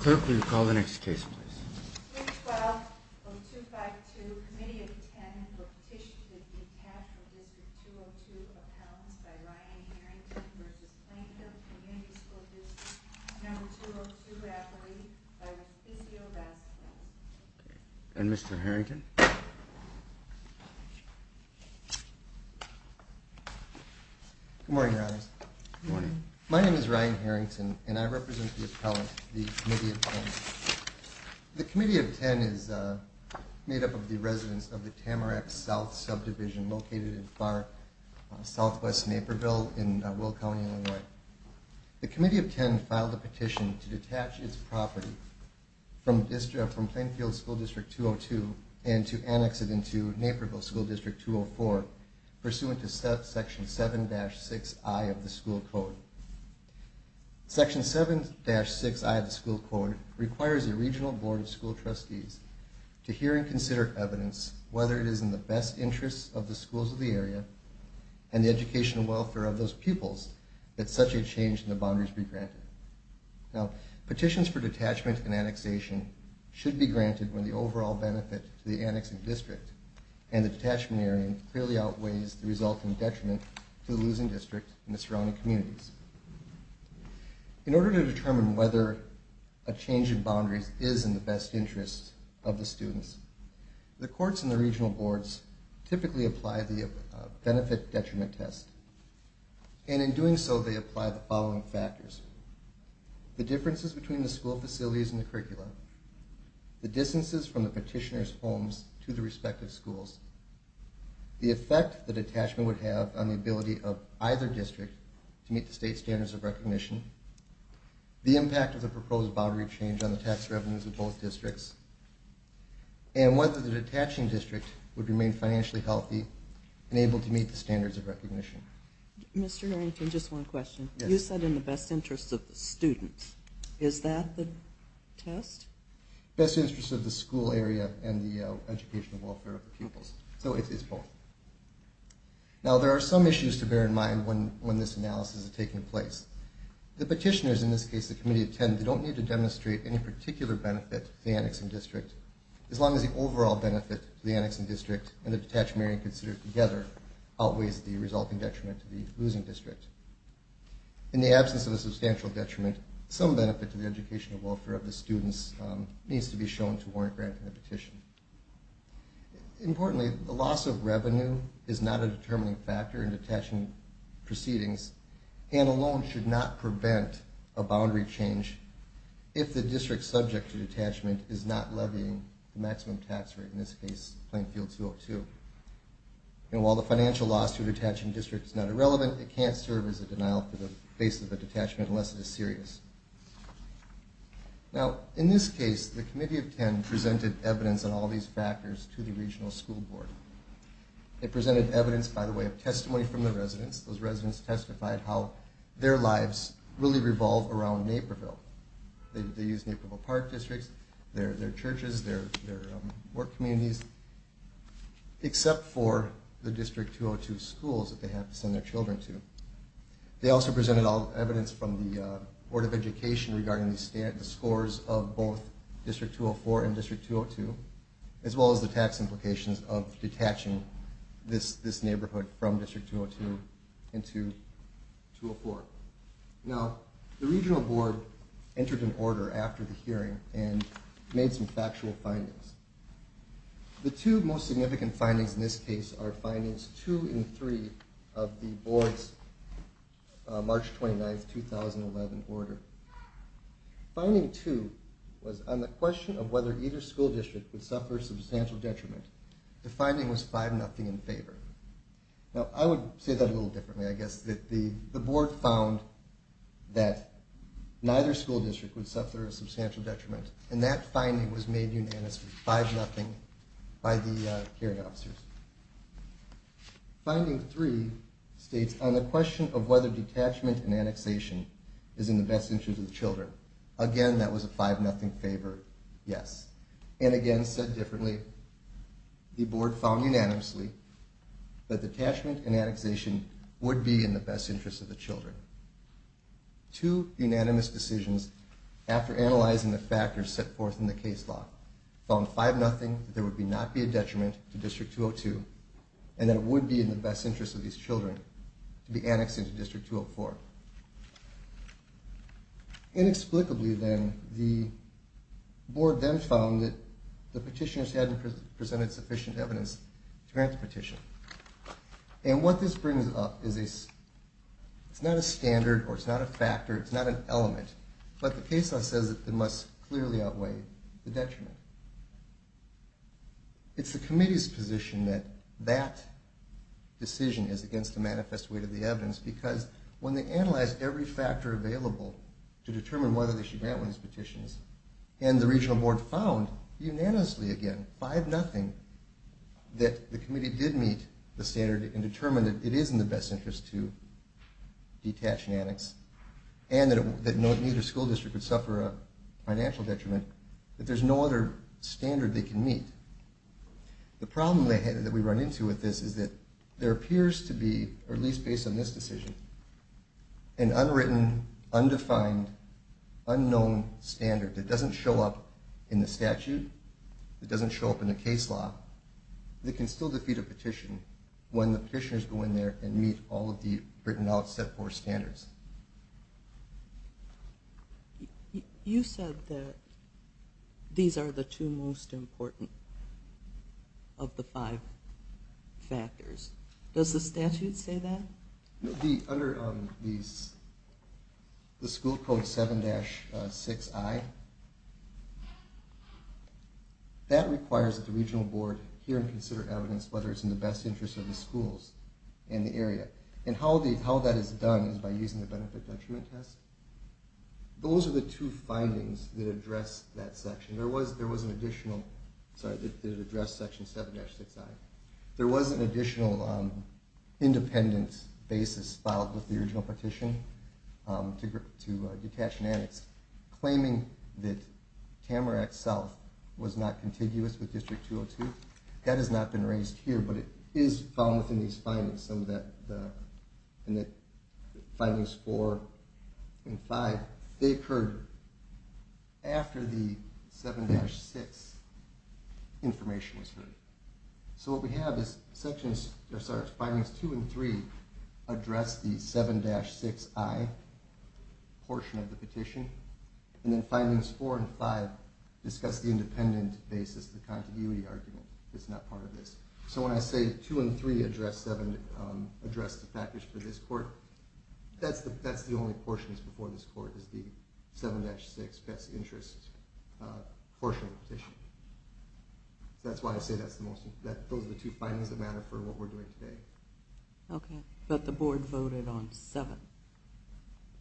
Clerk, will you call the next case, please? 12-0252 Committee of the Ten for Petition to Detach from District 202 Appellants by Ryan Harrington v. Plainfield Community School District No. 202 Rafferty v. Physio Vasquez And Mr. Harrington? Good morning, Your Honors. Good morning. My name is Ryan Harrington, and I represent the appellant, the Committee of Ten. The Committee of Ten is made up of the residents of the Tamarack South subdivision located in far southwest Naperville in Will County, Illinois. The Committee of Ten filed a petition to detach its property from Plainfield School District 202 and to annex it into Naperville School District 204, pursuant to Section 7-6I of the School Code. Section 7-6I of the School Code requires the Regional Board of School Trustees to hear and consider evidence whether it is in the best interests of the schools of the area and the educational welfare of those pupils that such a change in the boundaries be granted. Petitions for detachment and annexation should be granted when the overall benefit to the annexed district and the detachment area clearly outweighs the resulting detriment to the losing district and the surrounding communities. In order to determine whether a change in boundaries is in the best interests of the students, the courts and the regional boards typically apply the benefit-detriment test. And in doing so, they apply the following factors. The differences between the school facilities and the curriculum, the distances from the petitioners' homes to the respective schools, the effect the detachment would have on the ability of either district to meet the state standards of recognition, the impact of the proposed boundary change on the tax revenues of both districts, and whether the detaching district would remain financially healthy and able to meet the standards of recognition. Mr. Harrington, just one question. You said in the best interests of the students. Is that the test? Best interests of the school area and the educational welfare of the pupils. So it's both. Now, there are some issues to bear in mind when this analysis is taking place. The petitioners, in this case the committee of 10, don't need to demonstrate any particular benefit to the annexing district as long as the overall benefit to the annexing district and the detached marrying considered together outweighs the resulting detriment to the losing district. In the absence of a substantial detriment, some benefit to the educational welfare of the students needs to be shown to warrant granting the petition. Importantly, the loss of revenue is not a determining factor in detaching proceedings, and alone should not prevent a boundary change if the district subject to detachment is not levying the maximum tax rate, in this case, Plainfield 202. And while the financial loss to a detaching district is not irrelevant, it can't serve as a denial to the base of a detachment unless it is serious. Now, in this case, the committee of 10 presented evidence on all these factors to the regional school board. They presented evidence, by the way, of testimony from the residents. Those residents testified how their lives really revolve around Naperville. They use Naperville Park districts, their churches, their work communities, except for the District 202 schools that they have to send their children to. They also presented evidence from the Board of Education regarding the scores of both District 204 and District 202, as well as the tax implications of detaching this neighborhood from District 202 into 204. Now, the regional board entered an order after the hearing and made some factual findings. The two most significant findings in this case are findings 2 and 3 of the board's March 29, 2011 order. Finding 2 was, on the question of whether either school district would suffer substantial detriment, the finding was 5-0 in favor. Now, I would say that a little differently, I guess. The board found that neither school district would suffer a substantial detriment, and that finding was made unanimous, 5-0, by the hearing officers. Finding 3 states, on the question of whether detachment and annexation is in the best interest of the children. Again, that was a 5-0 favor, yes. And again, said differently, the board found unanimously that detachment and annexation would be in the best interest of the children. Two unanimous decisions, after analyzing the factors set forth in the case law, found 5-0 that there would not be a detriment to District 202, and that it would be in the best interest of these children to be annexed into District 204. Inexplicably, then, the board then found that the petitioners hadn't presented sufficient evidence to grant the petition. And what this brings up is, it's not a standard, or it's not a factor, it's not an element, but the case law says it must clearly outweigh the detriment. It's the committee's position that that decision is against the manifest weight of the evidence, because when they analyzed every factor available to determine whether they should grant one of these petitions, and the regional board found, unanimously again, 5-0, that the committee did meet the standard and determined that it is in the best interest to detach and annex, and that neither school district would suffer a financial detriment, that there's no other standard they can meet. The problem that we run into with this is that there appears to be, or at least based on this decision, an unwritten, undefined, unknown standard that doesn't show up in the statute, that doesn't show up in the case law, that can still defeat a petition when the petitioners go in there and meet all of the written out, set forth standards. You said that these are the two most important of the five factors. Does the statute say that? Under the school code 7-6i, that requires that the regional board hear and consider evidence whether it's in the best interest of the schools in the area, and how that is done is by using the benefit detriment test. Those are the two findings that address that section. There was an additional, sorry, that addressed section 7-6i. There was an additional independent basis filed with the original petition to detach and annex, claiming that Tamarack South was not contiguous with District 202. That has not been raised here, but it is found within these findings, some of the findings four and five. They occurred after the 7-6 information was heard. So what we have is findings two and three address the 7-6i portion of the petition, and then findings four and five discuss the independent basis, the contiguity argument. It's not part of this. So when I say two and three address the package for this court, that's the only portions before this court is the 7-6 best interest portion of the petition. That's why I say those are the two findings that matter for what we're doing today. Okay. But the board voted on seven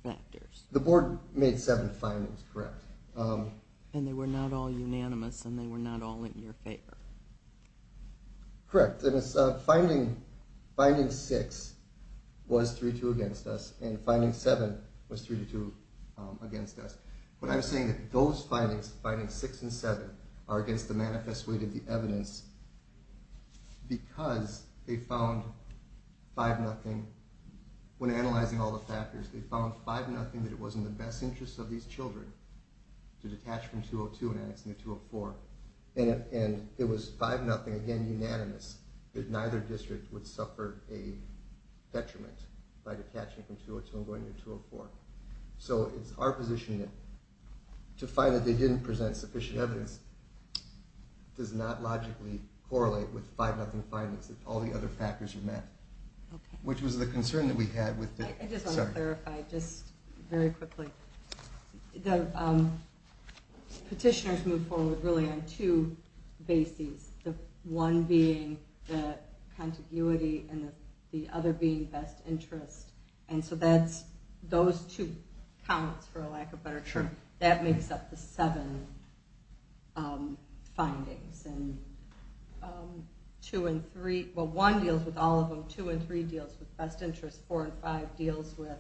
factors. The board made seven findings, correct. And they were not all unanimous, and they were not all in your favor. Correct. And finding six was 3-2 against us, and finding seven was 3-2 against us. But I'm saying that those findings, findings six and seven, are against the manifest weight of the evidence because they found 5-0. When analyzing all the factors, they found 5-0 that it was in the best interest of these children to detach from 202 and go to 204. And it was 5-0, again, unanimous, that neither district would suffer a detriment by detaching from 202 and going to 204. So it's our position to find that they didn't present sufficient evidence does not logically correlate with 5-0 findings that all the other factors are met. Okay. Which was the concern that we had with the... I just want to clarify just very quickly. The petitioners move forward really on two bases, the one being the contiguity and the other being best interest. And so that's those two counts, for lack of better term. That makes up the seven findings. And two and three, well, one deals with all of them. Two and three deals with best interest. Four and five deals with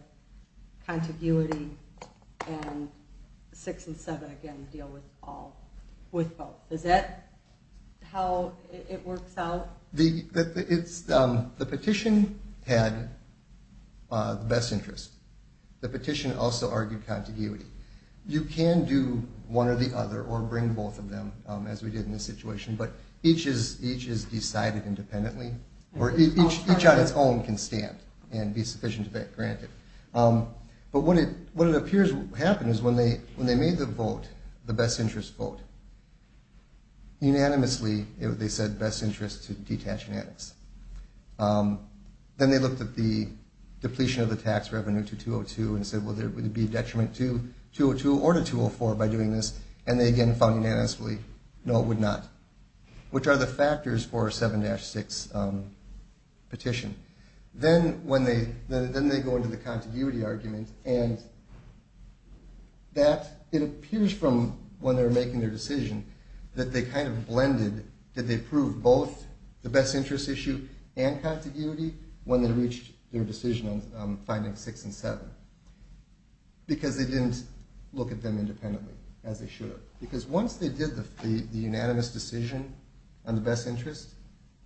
contiguity. And six and seven, again, deal with both. Is that how it works out? The petition had best interest. The petition also argued contiguity. You can do one or the other or bring both of them, as we did in this situation, but each is decided independently, or each on its own can stand and be sufficient to take granted. But what it appears happened is when they made the vote, the best interest vote, unanimously they said best interest to detach and annex. Then they looked at the depletion of the tax revenue to 202 and said, well, would it be a detriment to 202 or to 204 by doing this? And they again found unanimously no, it would not, which are the factors for a 7-6 petition. Then they go into the contiguity argument, and it appears from when they were making their decision that they kind of blended, that they proved both the best interest issue and contiguity when they reached their decision on finding six and seven because they didn't look at them independently as they should have. Because once they did the unanimous decision on the best interest,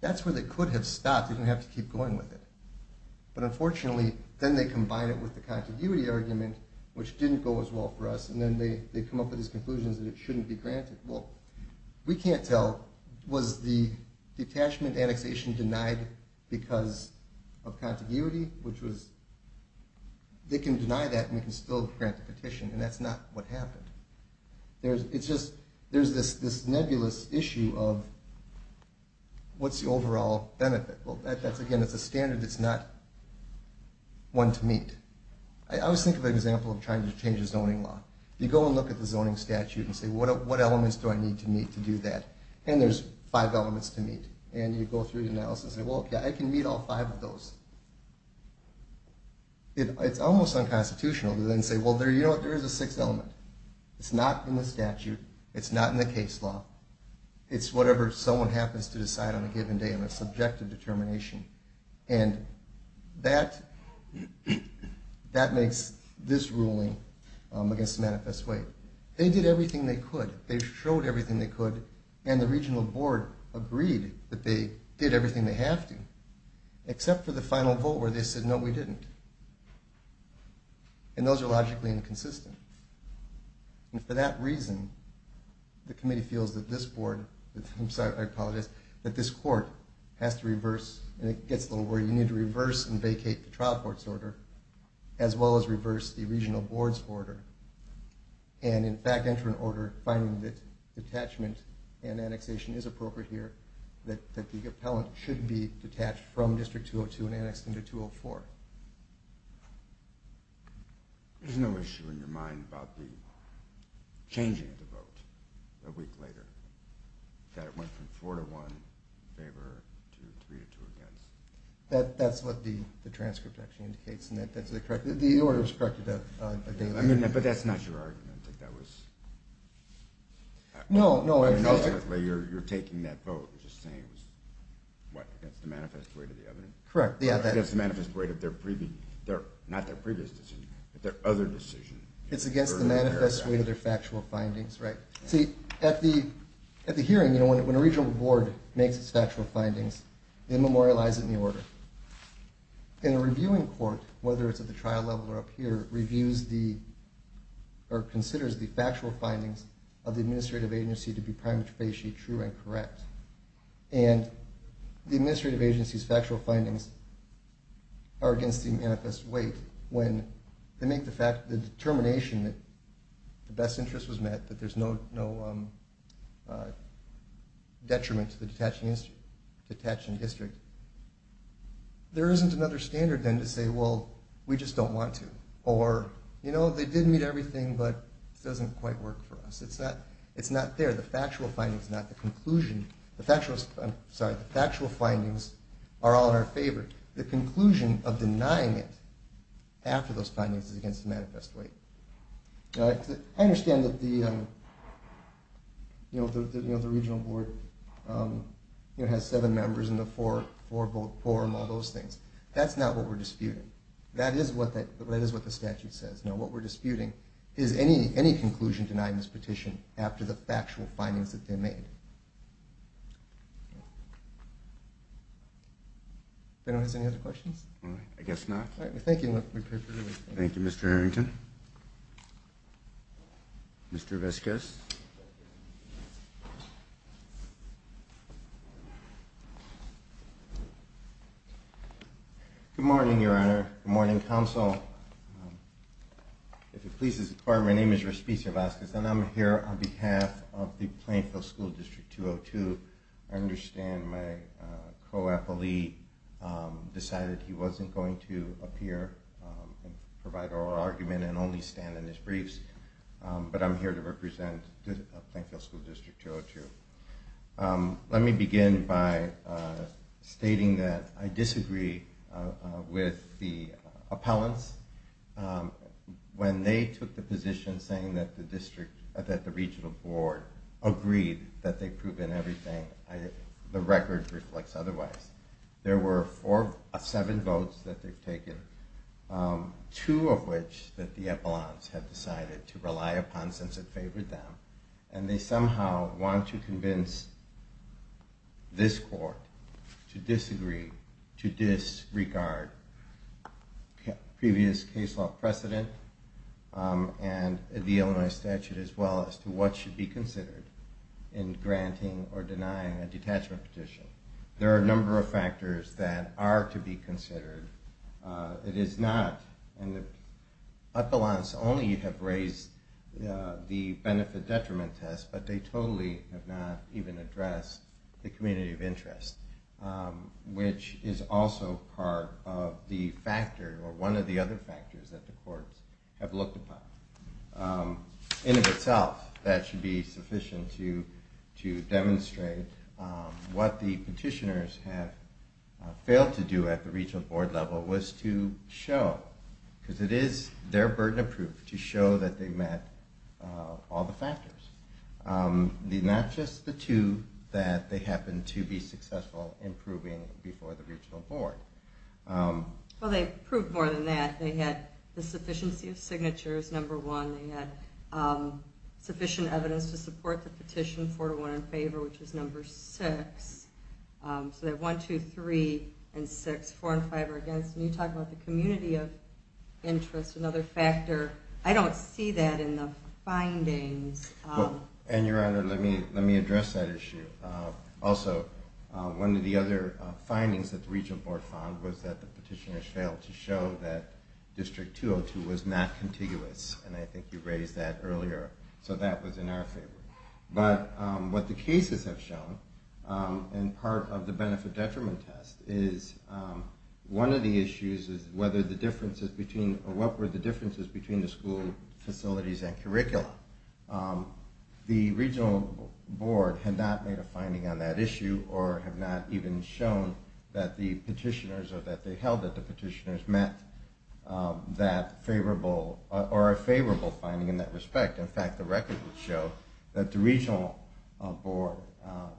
that's where they could have stopped. They didn't have to keep going with it. But unfortunately, then they combine it with the contiguity argument, which didn't go as well for us, and then they come up with these conclusions that it shouldn't be granted. Well, we can't tell. Was the detachment annexation denied because of contiguity? They can deny that and we can still grant the petition, and that's not what happened. It's just there's this nebulous issue of what's the overall benefit? Again, it's a standard that's not one to meet. I always think of an example of trying to change a zoning law. You go and look at the zoning statute and say, what elements do I need to meet to do that? And there's five elements to meet. And you go through the analysis and say, well, I can meet all five of those. It's almost unconstitutional to then say, well, there is a sixth element. It's not in the statute. It's not in the case law. It's whatever someone happens to decide on a given day on a subjective determination. And that makes this ruling against Manifest Way. They did everything they could. They showed everything they could, and the regional board agreed that they did everything they have to, except for the final vote where they said, no, we didn't. And those are logically inconsistent. And for that reason, the committee feels that this board, I apologize, that this court has to reverse, and it gets a little weird, you need to reverse and vacate the trial court's order, as well as reverse the regional board's order, and in fact enter an order finding that detachment and annexation is appropriate here, that the appellant should be detached from District 202 and annexed into 204. There's no issue in your mind about changing the vote a week later, that it went from 4-1 in favor to 3-2 against? That's what the transcript actually indicates, and the order is corrected that day. But that's not your argument. I think that was... No, no. You're taking that vote and just saying it was, what, against the Manifest Way to the evidence? Correct. Against the Manifest Way to their previous, not their previous decision, but their other decision. It's against the Manifest Way to their factual findings, right? See, at the hearing, you know, when a regional board makes its factual findings, they memorialize it in the order. And a reviewing court, whether it's at the trial level or up here, reviews the, or considers the factual findings of the administrative agency to be prima facie true and correct. And the administrative agency's factual findings are against the Manifest Way when they make the determination that the best interest was met, that there's no detriment to the detachment district. There isn't another standard, then, to say, well, we just don't want to. Or, you know, they did meet everything, but it doesn't quite work for us. It's not there. The factual findings, not the conclusion. The factual findings are all in our favor. The conclusion of denying it after those findings is against the Manifest Way. I understand that the regional board, you know, has seven members in the forum, all those things. That's not what we're disputing. That is what the statute says. Now, what we're disputing is any conclusion denied in this petition after the factual findings that they made. Anyone has any other questions? I guess not. Thank you. Thank you, Mr. Harrington. Mr. Vasquez. Good morning, Your Honor. Good morning, Council. If it pleases the Court, my name is Raspis Vasquez, and I'm here on behalf of the Plainfield School District 202. I understand my co-appellee decided he wasn't going to appear and provide oral argument and only stand in his briefs, but I'm here to represent the Plainfield School District 202. Let me begin by stating that I disagree with the appellants. When they took the position saying that the district, that the regional board agreed that they've proven everything, the record reflects otherwise. There were seven votes that they've taken, two of which that the appellants have decided to rely upon since it favored them, and they somehow want to convince this court to disagree, to disregard previous case law precedent and the Illinois statute as well as to what should be considered in granting or denying a detachment petition. There are a number of factors that are to be considered. It is not, and the appellants only have raised the benefit-detriment test, but they totally have not even addressed the community of interest, which is also part of the factor, or one of the other factors that the courts have looked upon. In and of itself, that should be sufficient to demonstrate what the petitioners have failed to do at the regional board level was to show, because it is their burden of proof, to show that they met all the factors, not just the two that they happen to be successful in proving before the regional board. Well, they proved more than that. They had the sufficiency of signatures, number one. They had sufficient evidence to support the petition, four to one in favor, which is number six. So they have one, two, three, and six. Four and five are against. And you talk about the community of interest, another factor. I don't see that in the findings. And, Your Honor, let me address that issue. Also, one of the other findings that the regional board found was that the petitioners failed to show that District 202 was not contiguous, and I think you raised that earlier. So that was in our favor. But what the cases have shown, and part of the benefit-detriment test, is one of the issues is whether the differences between or what were the differences between the school facilities and curricula. The regional board had not made a finding on that issue or have not even shown that the petitioners or that they held that the petitioners met that favorable or a favorable finding in that respect. In fact, the record would show that the regional board,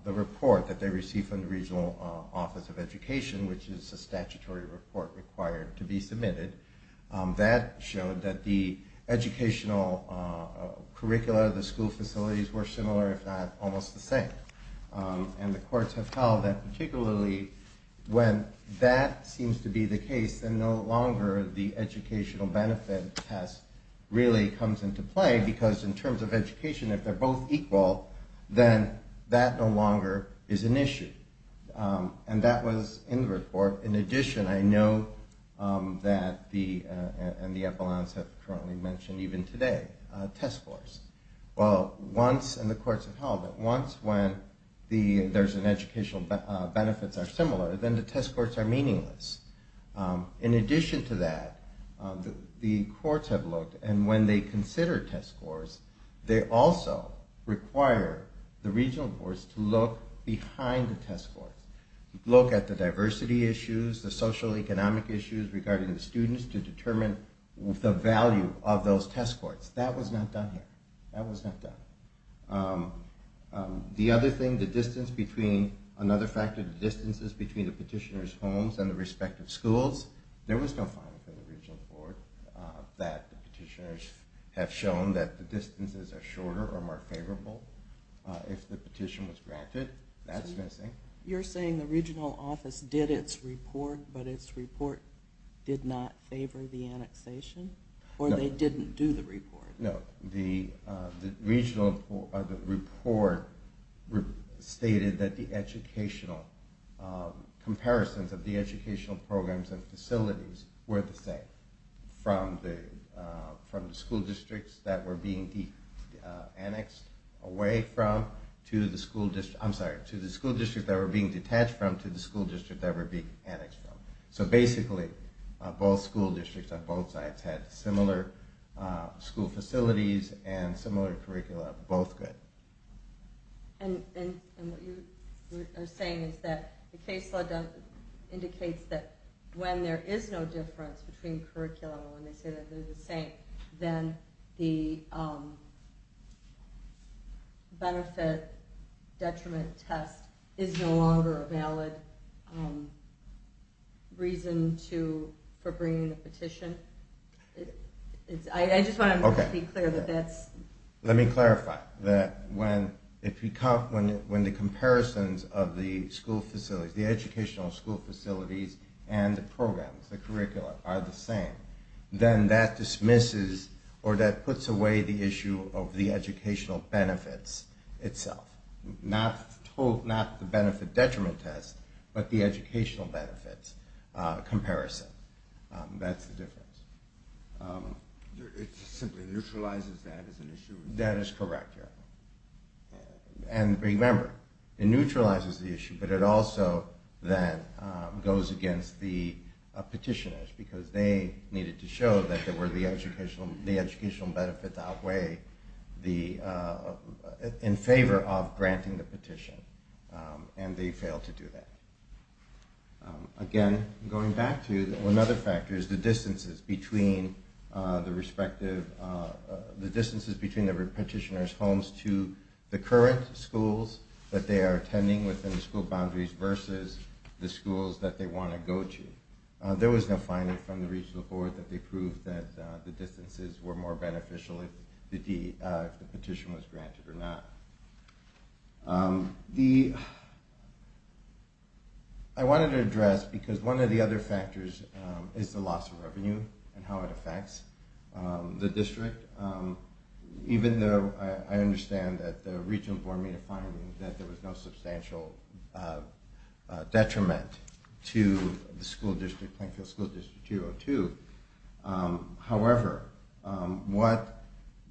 the report that they received from the Regional Office of Education, which is a statutory report required to be submitted, that showed that the educational curricula of the school facilities were similar, if not almost the same. And the courts have held that particularly when that seems to be the case, then no longer the educational benefit test really comes into play because in terms of education, if they're both equal, then that no longer is an issue. And that was in the report. In addition, I know that the Epelons have currently mentioned, even today, test scores. Well, once in the courts have held that once when there's an educational benefit that's similar, then the test scores are meaningless. In addition to that, the courts have looked, and when they consider test scores, they also require the regional boards to look behind the test scores, look at the diversity issues, the socioeconomic issues regarding the students to determine the value of those test scores. That was not done here. That was not done. The other thing, the distance between, another factor, the distances between the petitioners' homes and the respective schools, there was no finding from the regional board that the petitioners have shown that the distances are shorter or more favorable if the petition was granted. You're saying the regional office did its report, but its report did not favor the annexation? No. Or they didn't do the report? No. The regional report stated that the educational comparisons of the educational programs and facilities were the same, from the school districts that were being annexed away from, I'm sorry, to the school districts that were being detached from, to the school districts that were being annexed from. So basically, both school districts on both sides had similar school facilities and similar curricula, both good. And what you are saying is that the case law indicates that when there is no difference between curriculum and when they say they're the same, then the benefit detriment test is no longer a valid reason for bringing the petition? I just want to be clear that that's... Okay. Let me clarify that when the comparisons of the school facilities, the educational school facilities and the programs, the curricula, are the same, then that dismisses or that puts away the issue of the educational benefits itself. Not the benefit detriment test, but the educational benefits comparison. That's the difference. It simply neutralizes that as an issue? That is correct, yeah. And remember, it neutralizes the issue, but it also then goes against the petitioners because they needed to show that the educational benefits outweigh in favor of granting the petition, and they failed to do that. Again, going back to another factor is the distances between the respective, the distances between the petitioner's homes to the current schools that they are attending within the school boundaries versus the schools that they want to go to. There was no finding from the regional board that they proved that the distances were more beneficial if the petition was granted or not. I wanted to address, because one of the other factors is the loss of revenue and how it affects the district. Even though I understand that the regional board made a finding that there was no substantial detriment to the school district, Plainfield School District 202. However, what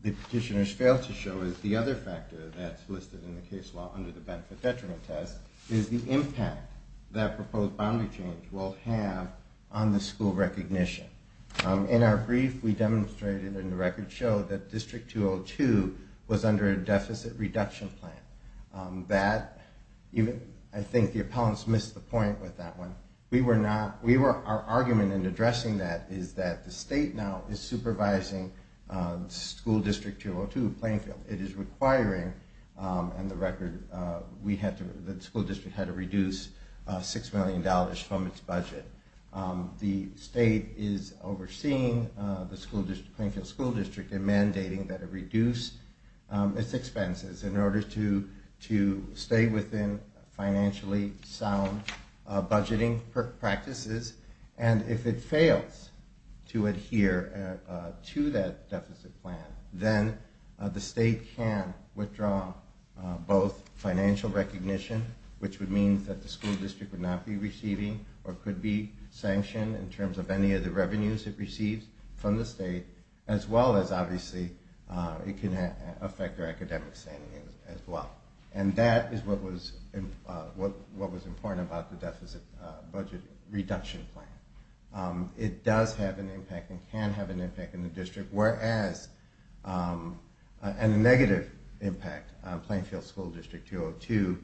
the petitioners failed to show is the other factor that's listed in the case law under the benefit detriment test is the impact that proposed boundary change will have on the school recognition. In our brief, we demonstrated and the record showed that District 202 was under a deficit reduction plan. That, I think the appellants missed the point with that one. We were not, our argument in addressing that is that the state now is supervising School District 202, Plainfield. It is requiring, and the record, the school district had to reduce $6 million from its budget. The state is overseeing the school district, Plainfield School District, and mandating that it reduce its expenses in order to stay within financially sound budgeting practices. If it fails to adhere to that deficit plan, then the state can withdraw both financial recognition, which would mean that the school district would not be receiving or could be sanctioned in terms of any of the revenues it receives from the state, as well as, obviously, it can affect their academic standing as well. And that is what was important about the deficit budget reduction plan. It does have an impact and can have an impact in the district, whereas a negative impact on Plainfield School District 202,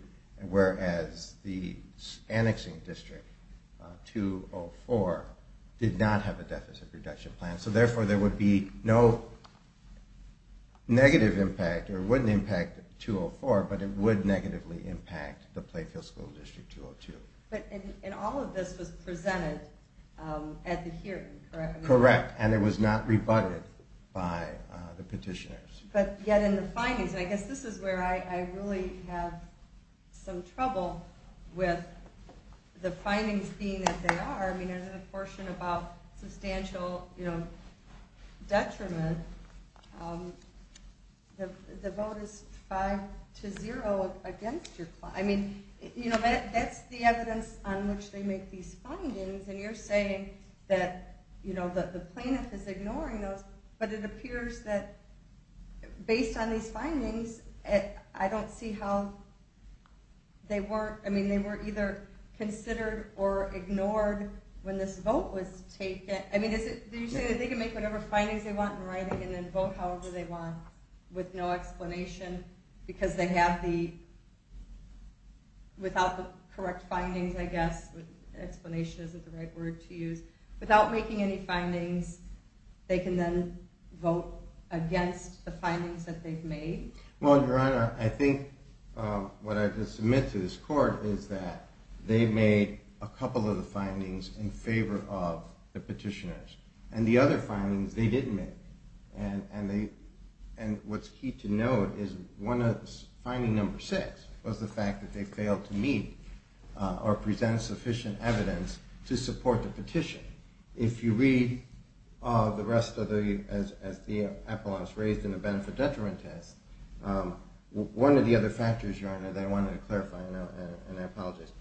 whereas the annexing district 204 did not have a deficit reduction plan. So, therefore, there would be no negative impact or wouldn't impact 204, but it would negatively impact the Plainfield School District 202. And all of this was presented at the hearing, correct? Correct, and it was not rebutted by the petitioners. But yet in the findings, and I guess this is where I really have some trouble with the findings being that they are. I mean, there's a portion about substantial detriment. The vote is 5-0 against your plan. I mean, that's the evidence on which they make these findings, and you're saying that the plaintiff is ignoring those, but it appears that based on these findings, I don't see how they weren't. I mean, they were either considered or ignored when this vote was taken. I mean, do you say that they can make whatever findings they want in writing and then vote however they want with no explanation, because they have the, without the correct findings, I guess, explanation isn't the right word to use. Without making any findings, they can then vote against the findings that they've made? Well, Your Honor, I think what I can submit to this court is that they made a couple of the findings in favor of the petitioners, and the other findings they didn't make. And what's key to note is finding number six was the fact that they failed to meet or present sufficient evidence to support the petition. If you read the rest of the, as the epilogues raised in the benefit-detriment test, one of the other factors, Your Honor, that I wanted to clarify, and I apologize.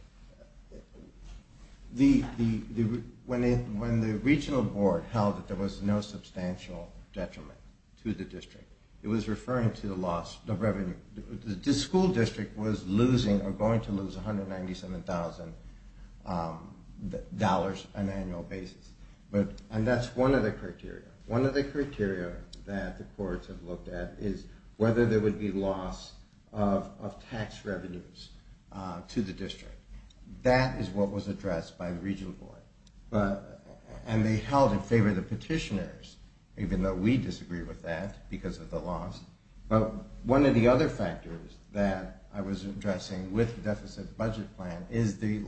When the regional board held that there was no substantial detriment to the district, it was referring to the loss of revenue. The school district was losing or going to lose $197,000 on an annual basis. And that's one of the criteria. One of the criteria that the courts have looked at is whether there would be loss of tax revenues to the district. That is what was addressed by the regional board. And they held in favor of the petitioners, even though we disagree with that because of the loss. But one of the other factors that I was addressing with the deficit budget plan is the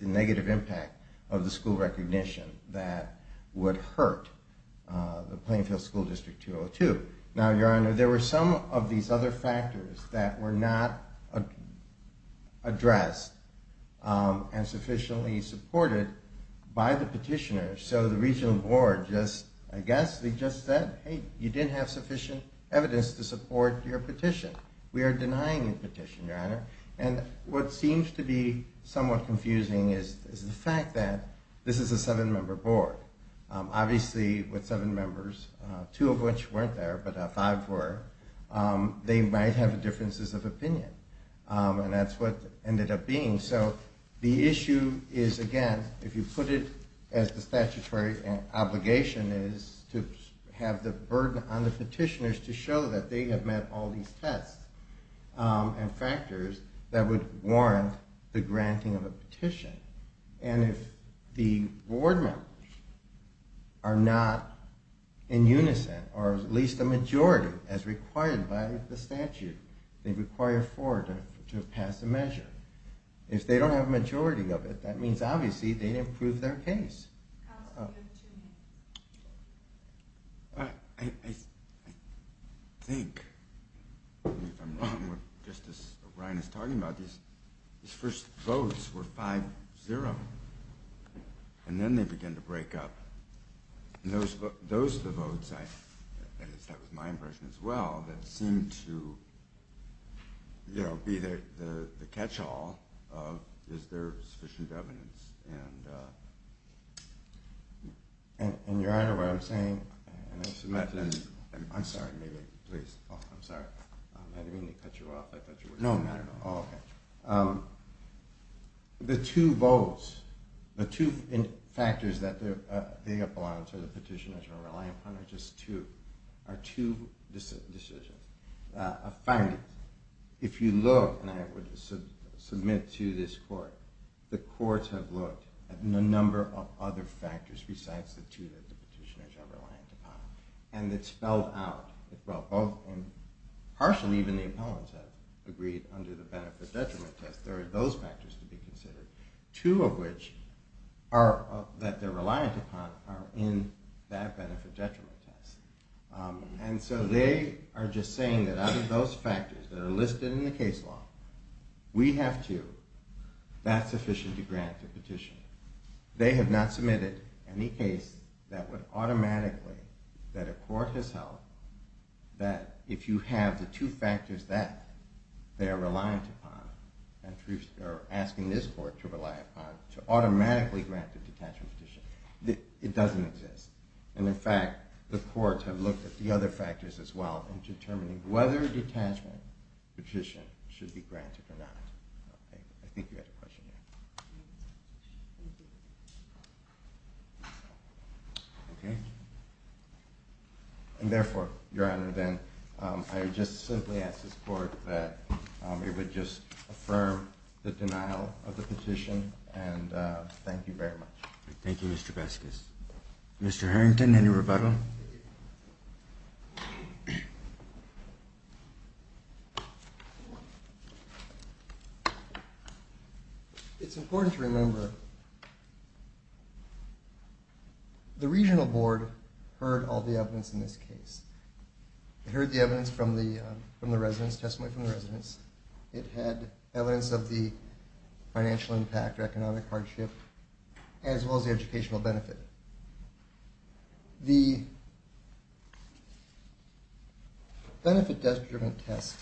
negative impact of the school recognition that would hurt the Plainfield School District 202. Now, Your Honor, there were some of these other factors that were not addressed and sufficiently supported by the petitioners. So the regional board just, I guess, they just said, hey, you didn't have sufficient evidence to support your petition. We are denying the petition, Your Honor. And what seems to be somewhat confusing is the fact that this is a seven-member board. Obviously, with seven members, two of which weren't there but five were, they might have differences of opinion. And that's what ended up being. So the issue is, again, if you put it as the statutory obligation is to have the burden on the petitioners to show that they have met all these tests and factors that would warrant the granting of a petition. And if the board members are not in unison or at least a majority as required by the statute, they require four to pass a measure. If they don't have a majority of it, that means, obviously, they didn't prove their case. I think, if I'm wrong, just as Ryan is talking about, these first votes were 5-0. And then they began to break up. Those are the votes, that is, that was my impression as well, that seemed to be the catch-all of is there sufficient evidence. And, Your Honor, what I'm saying, I'm sorry, maybe, please. I'm sorry. I didn't mean to cut you off. I thought you were saying something. No, no, no. Oh, okay. The two votes, the two factors that the appellants or the petitioners are reliant upon are just two, are two decisions. Finally, if you look, and I would submit to this Court, the Courts have looked at a number of other factors besides the two that the petitioners are reliant upon, and it's spelled out. Well, both, and partially even the appellants have agreed under the benefit-detriment test, there are those factors to be considered, two of which that they're reliant upon are in that benefit-detriment test. And so they are just saying that out of those factors that are listed in the case law, we have two, that's sufficient to grant the petition. They have not submitted any case that would automatically, that a court has held, that if you have the two factors that they are reliant upon and are asking this Court to rely upon to automatically grant the detachment petition, it doesn't exist. And in fact, the courts have looked at the other factors as well in determining whether a detachment petition should be granted or not. I think you had a question here. Okay. And therefore, Your Honor, then, I would just simply ask this Court that it would just affirm the denial of the petition, and thank you very much. Thank you, Mr. Beskus. Mr. Harrington, any rebuttal? It's important to remember the Regional Board heard all the evidence in this case. It heard the evidence from the residents, testimony from the residents. It had evidence of the financial impact or economic hardship, as well as the educational benefit. The benefit-desk-driven test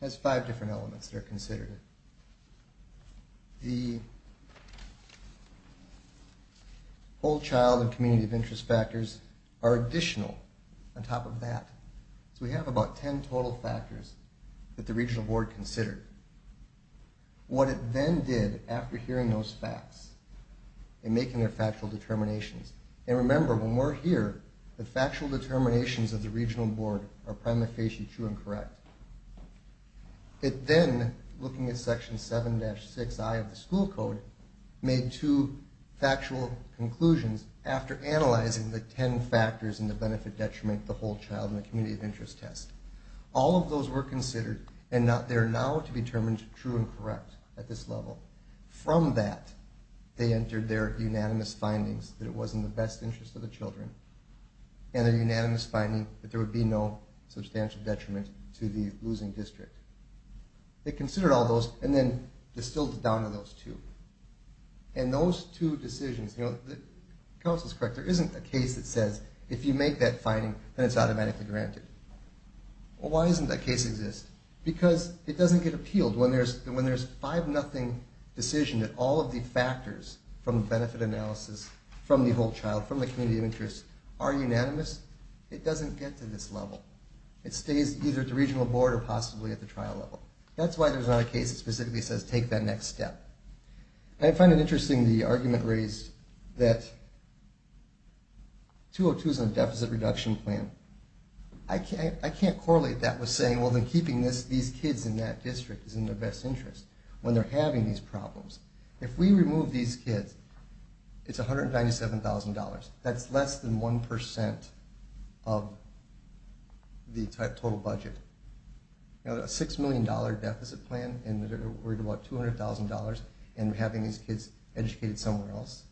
has five different elements that are considered. The whole child and community of interest factors are additional on top of that. So we have about ten total factors that the Regional Board considered. What it then did after hearing those facts and making their factual determinations, and remember, when we're here, the factual determinations of the Regional Board are prima facie true and correct. It then, looking at Section 7-6i of the school code, made two factual conclusions after analyzing the ten factors in the benefit detriment, the whole child, and the community of interest test. All of those were considered, and they're now to be determined true and correct at this level. From that, they entered their unanimous findings that it was in the best interest of the children and their unanimous finding that there would be no substantial detriment to the losing district. They considered all those and then distilled it down to those two. And those two decisions, the counsel is correct, there isn't a case that says, if you make that finding, then it's automatically granted. Well, why doesn't that case exist? Because it doesn't get appealed. When there's a 5-0 decision that all of the factors from the benefit analysis, from the whole child, from the community of interest, are unanimous, it doesn't get to this level. It stays either at the Regional Board or possibly at the trial level. That's why there's not a case that specifically says take that next step. I find it interesting the argument raised that 202 is on the deficit reduction plan. I can't correlate that with saying, well, then keeping these kids in that district is in their best interest when they're having these problems. If we remove these kids, it's $197,000. That's less than 1% of the total budget. A $6 million deficit plan, and we're worried about $200,000 and having these kids educated somewhere else.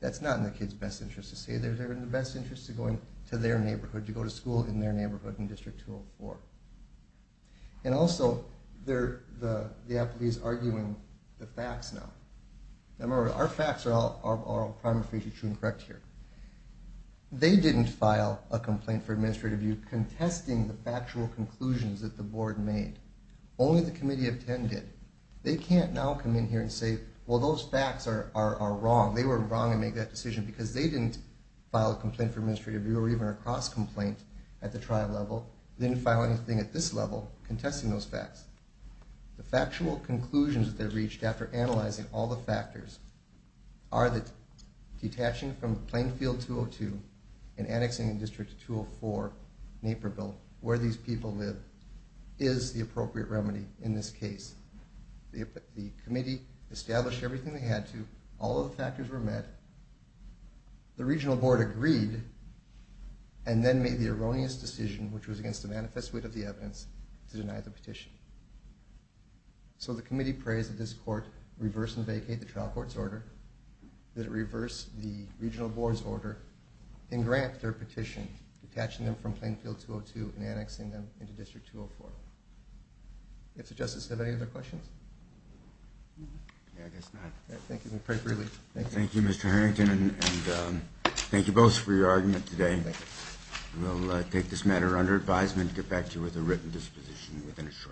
That's not in the kids' best interest to stay there. They're in the best interest of going to their neighborhood, to go to school in their neighborhood in District 204. And also, the applicant is arguing the facts now. Remember, our facts are all prima facie true and correct here. They didn't file a complaint for administrative review contesting the factual conclusions that the Board made. Only the Committee of 10 did. They can't now come in here and say, well, those facts are wrong. They were wrong to make that decision because they didn't file a complaint for administrative review or even a cross-complaint at the trial level. They didn't file anything at this level contesting those facts. The factual conclusions that they reached after analyzing all the factors are that detaching from Plainfield 202 and annexing District 204, Naperville, where these people live, is the appropriate remedy in this case. The committee established everything they had to. All of the factors were met. The regional board agreed and then made the erroneous decision, which was against the manifest wit of the evidence, to deny the petition. So the committee prays that this court reverse and vacate the trial court's order, that it reverse the regional board's order, and grant their petition, detaching them from Plainfield 202 and annexing them into District 204. Mr. Justice, do you have any other questions? Yeah, I guess not. Thank you. We pray for your relief. Thank you, Mr. Harrington, and thank you both for your argument today. We'll take this matter under advisement and get back to you with a written disposition within a short time.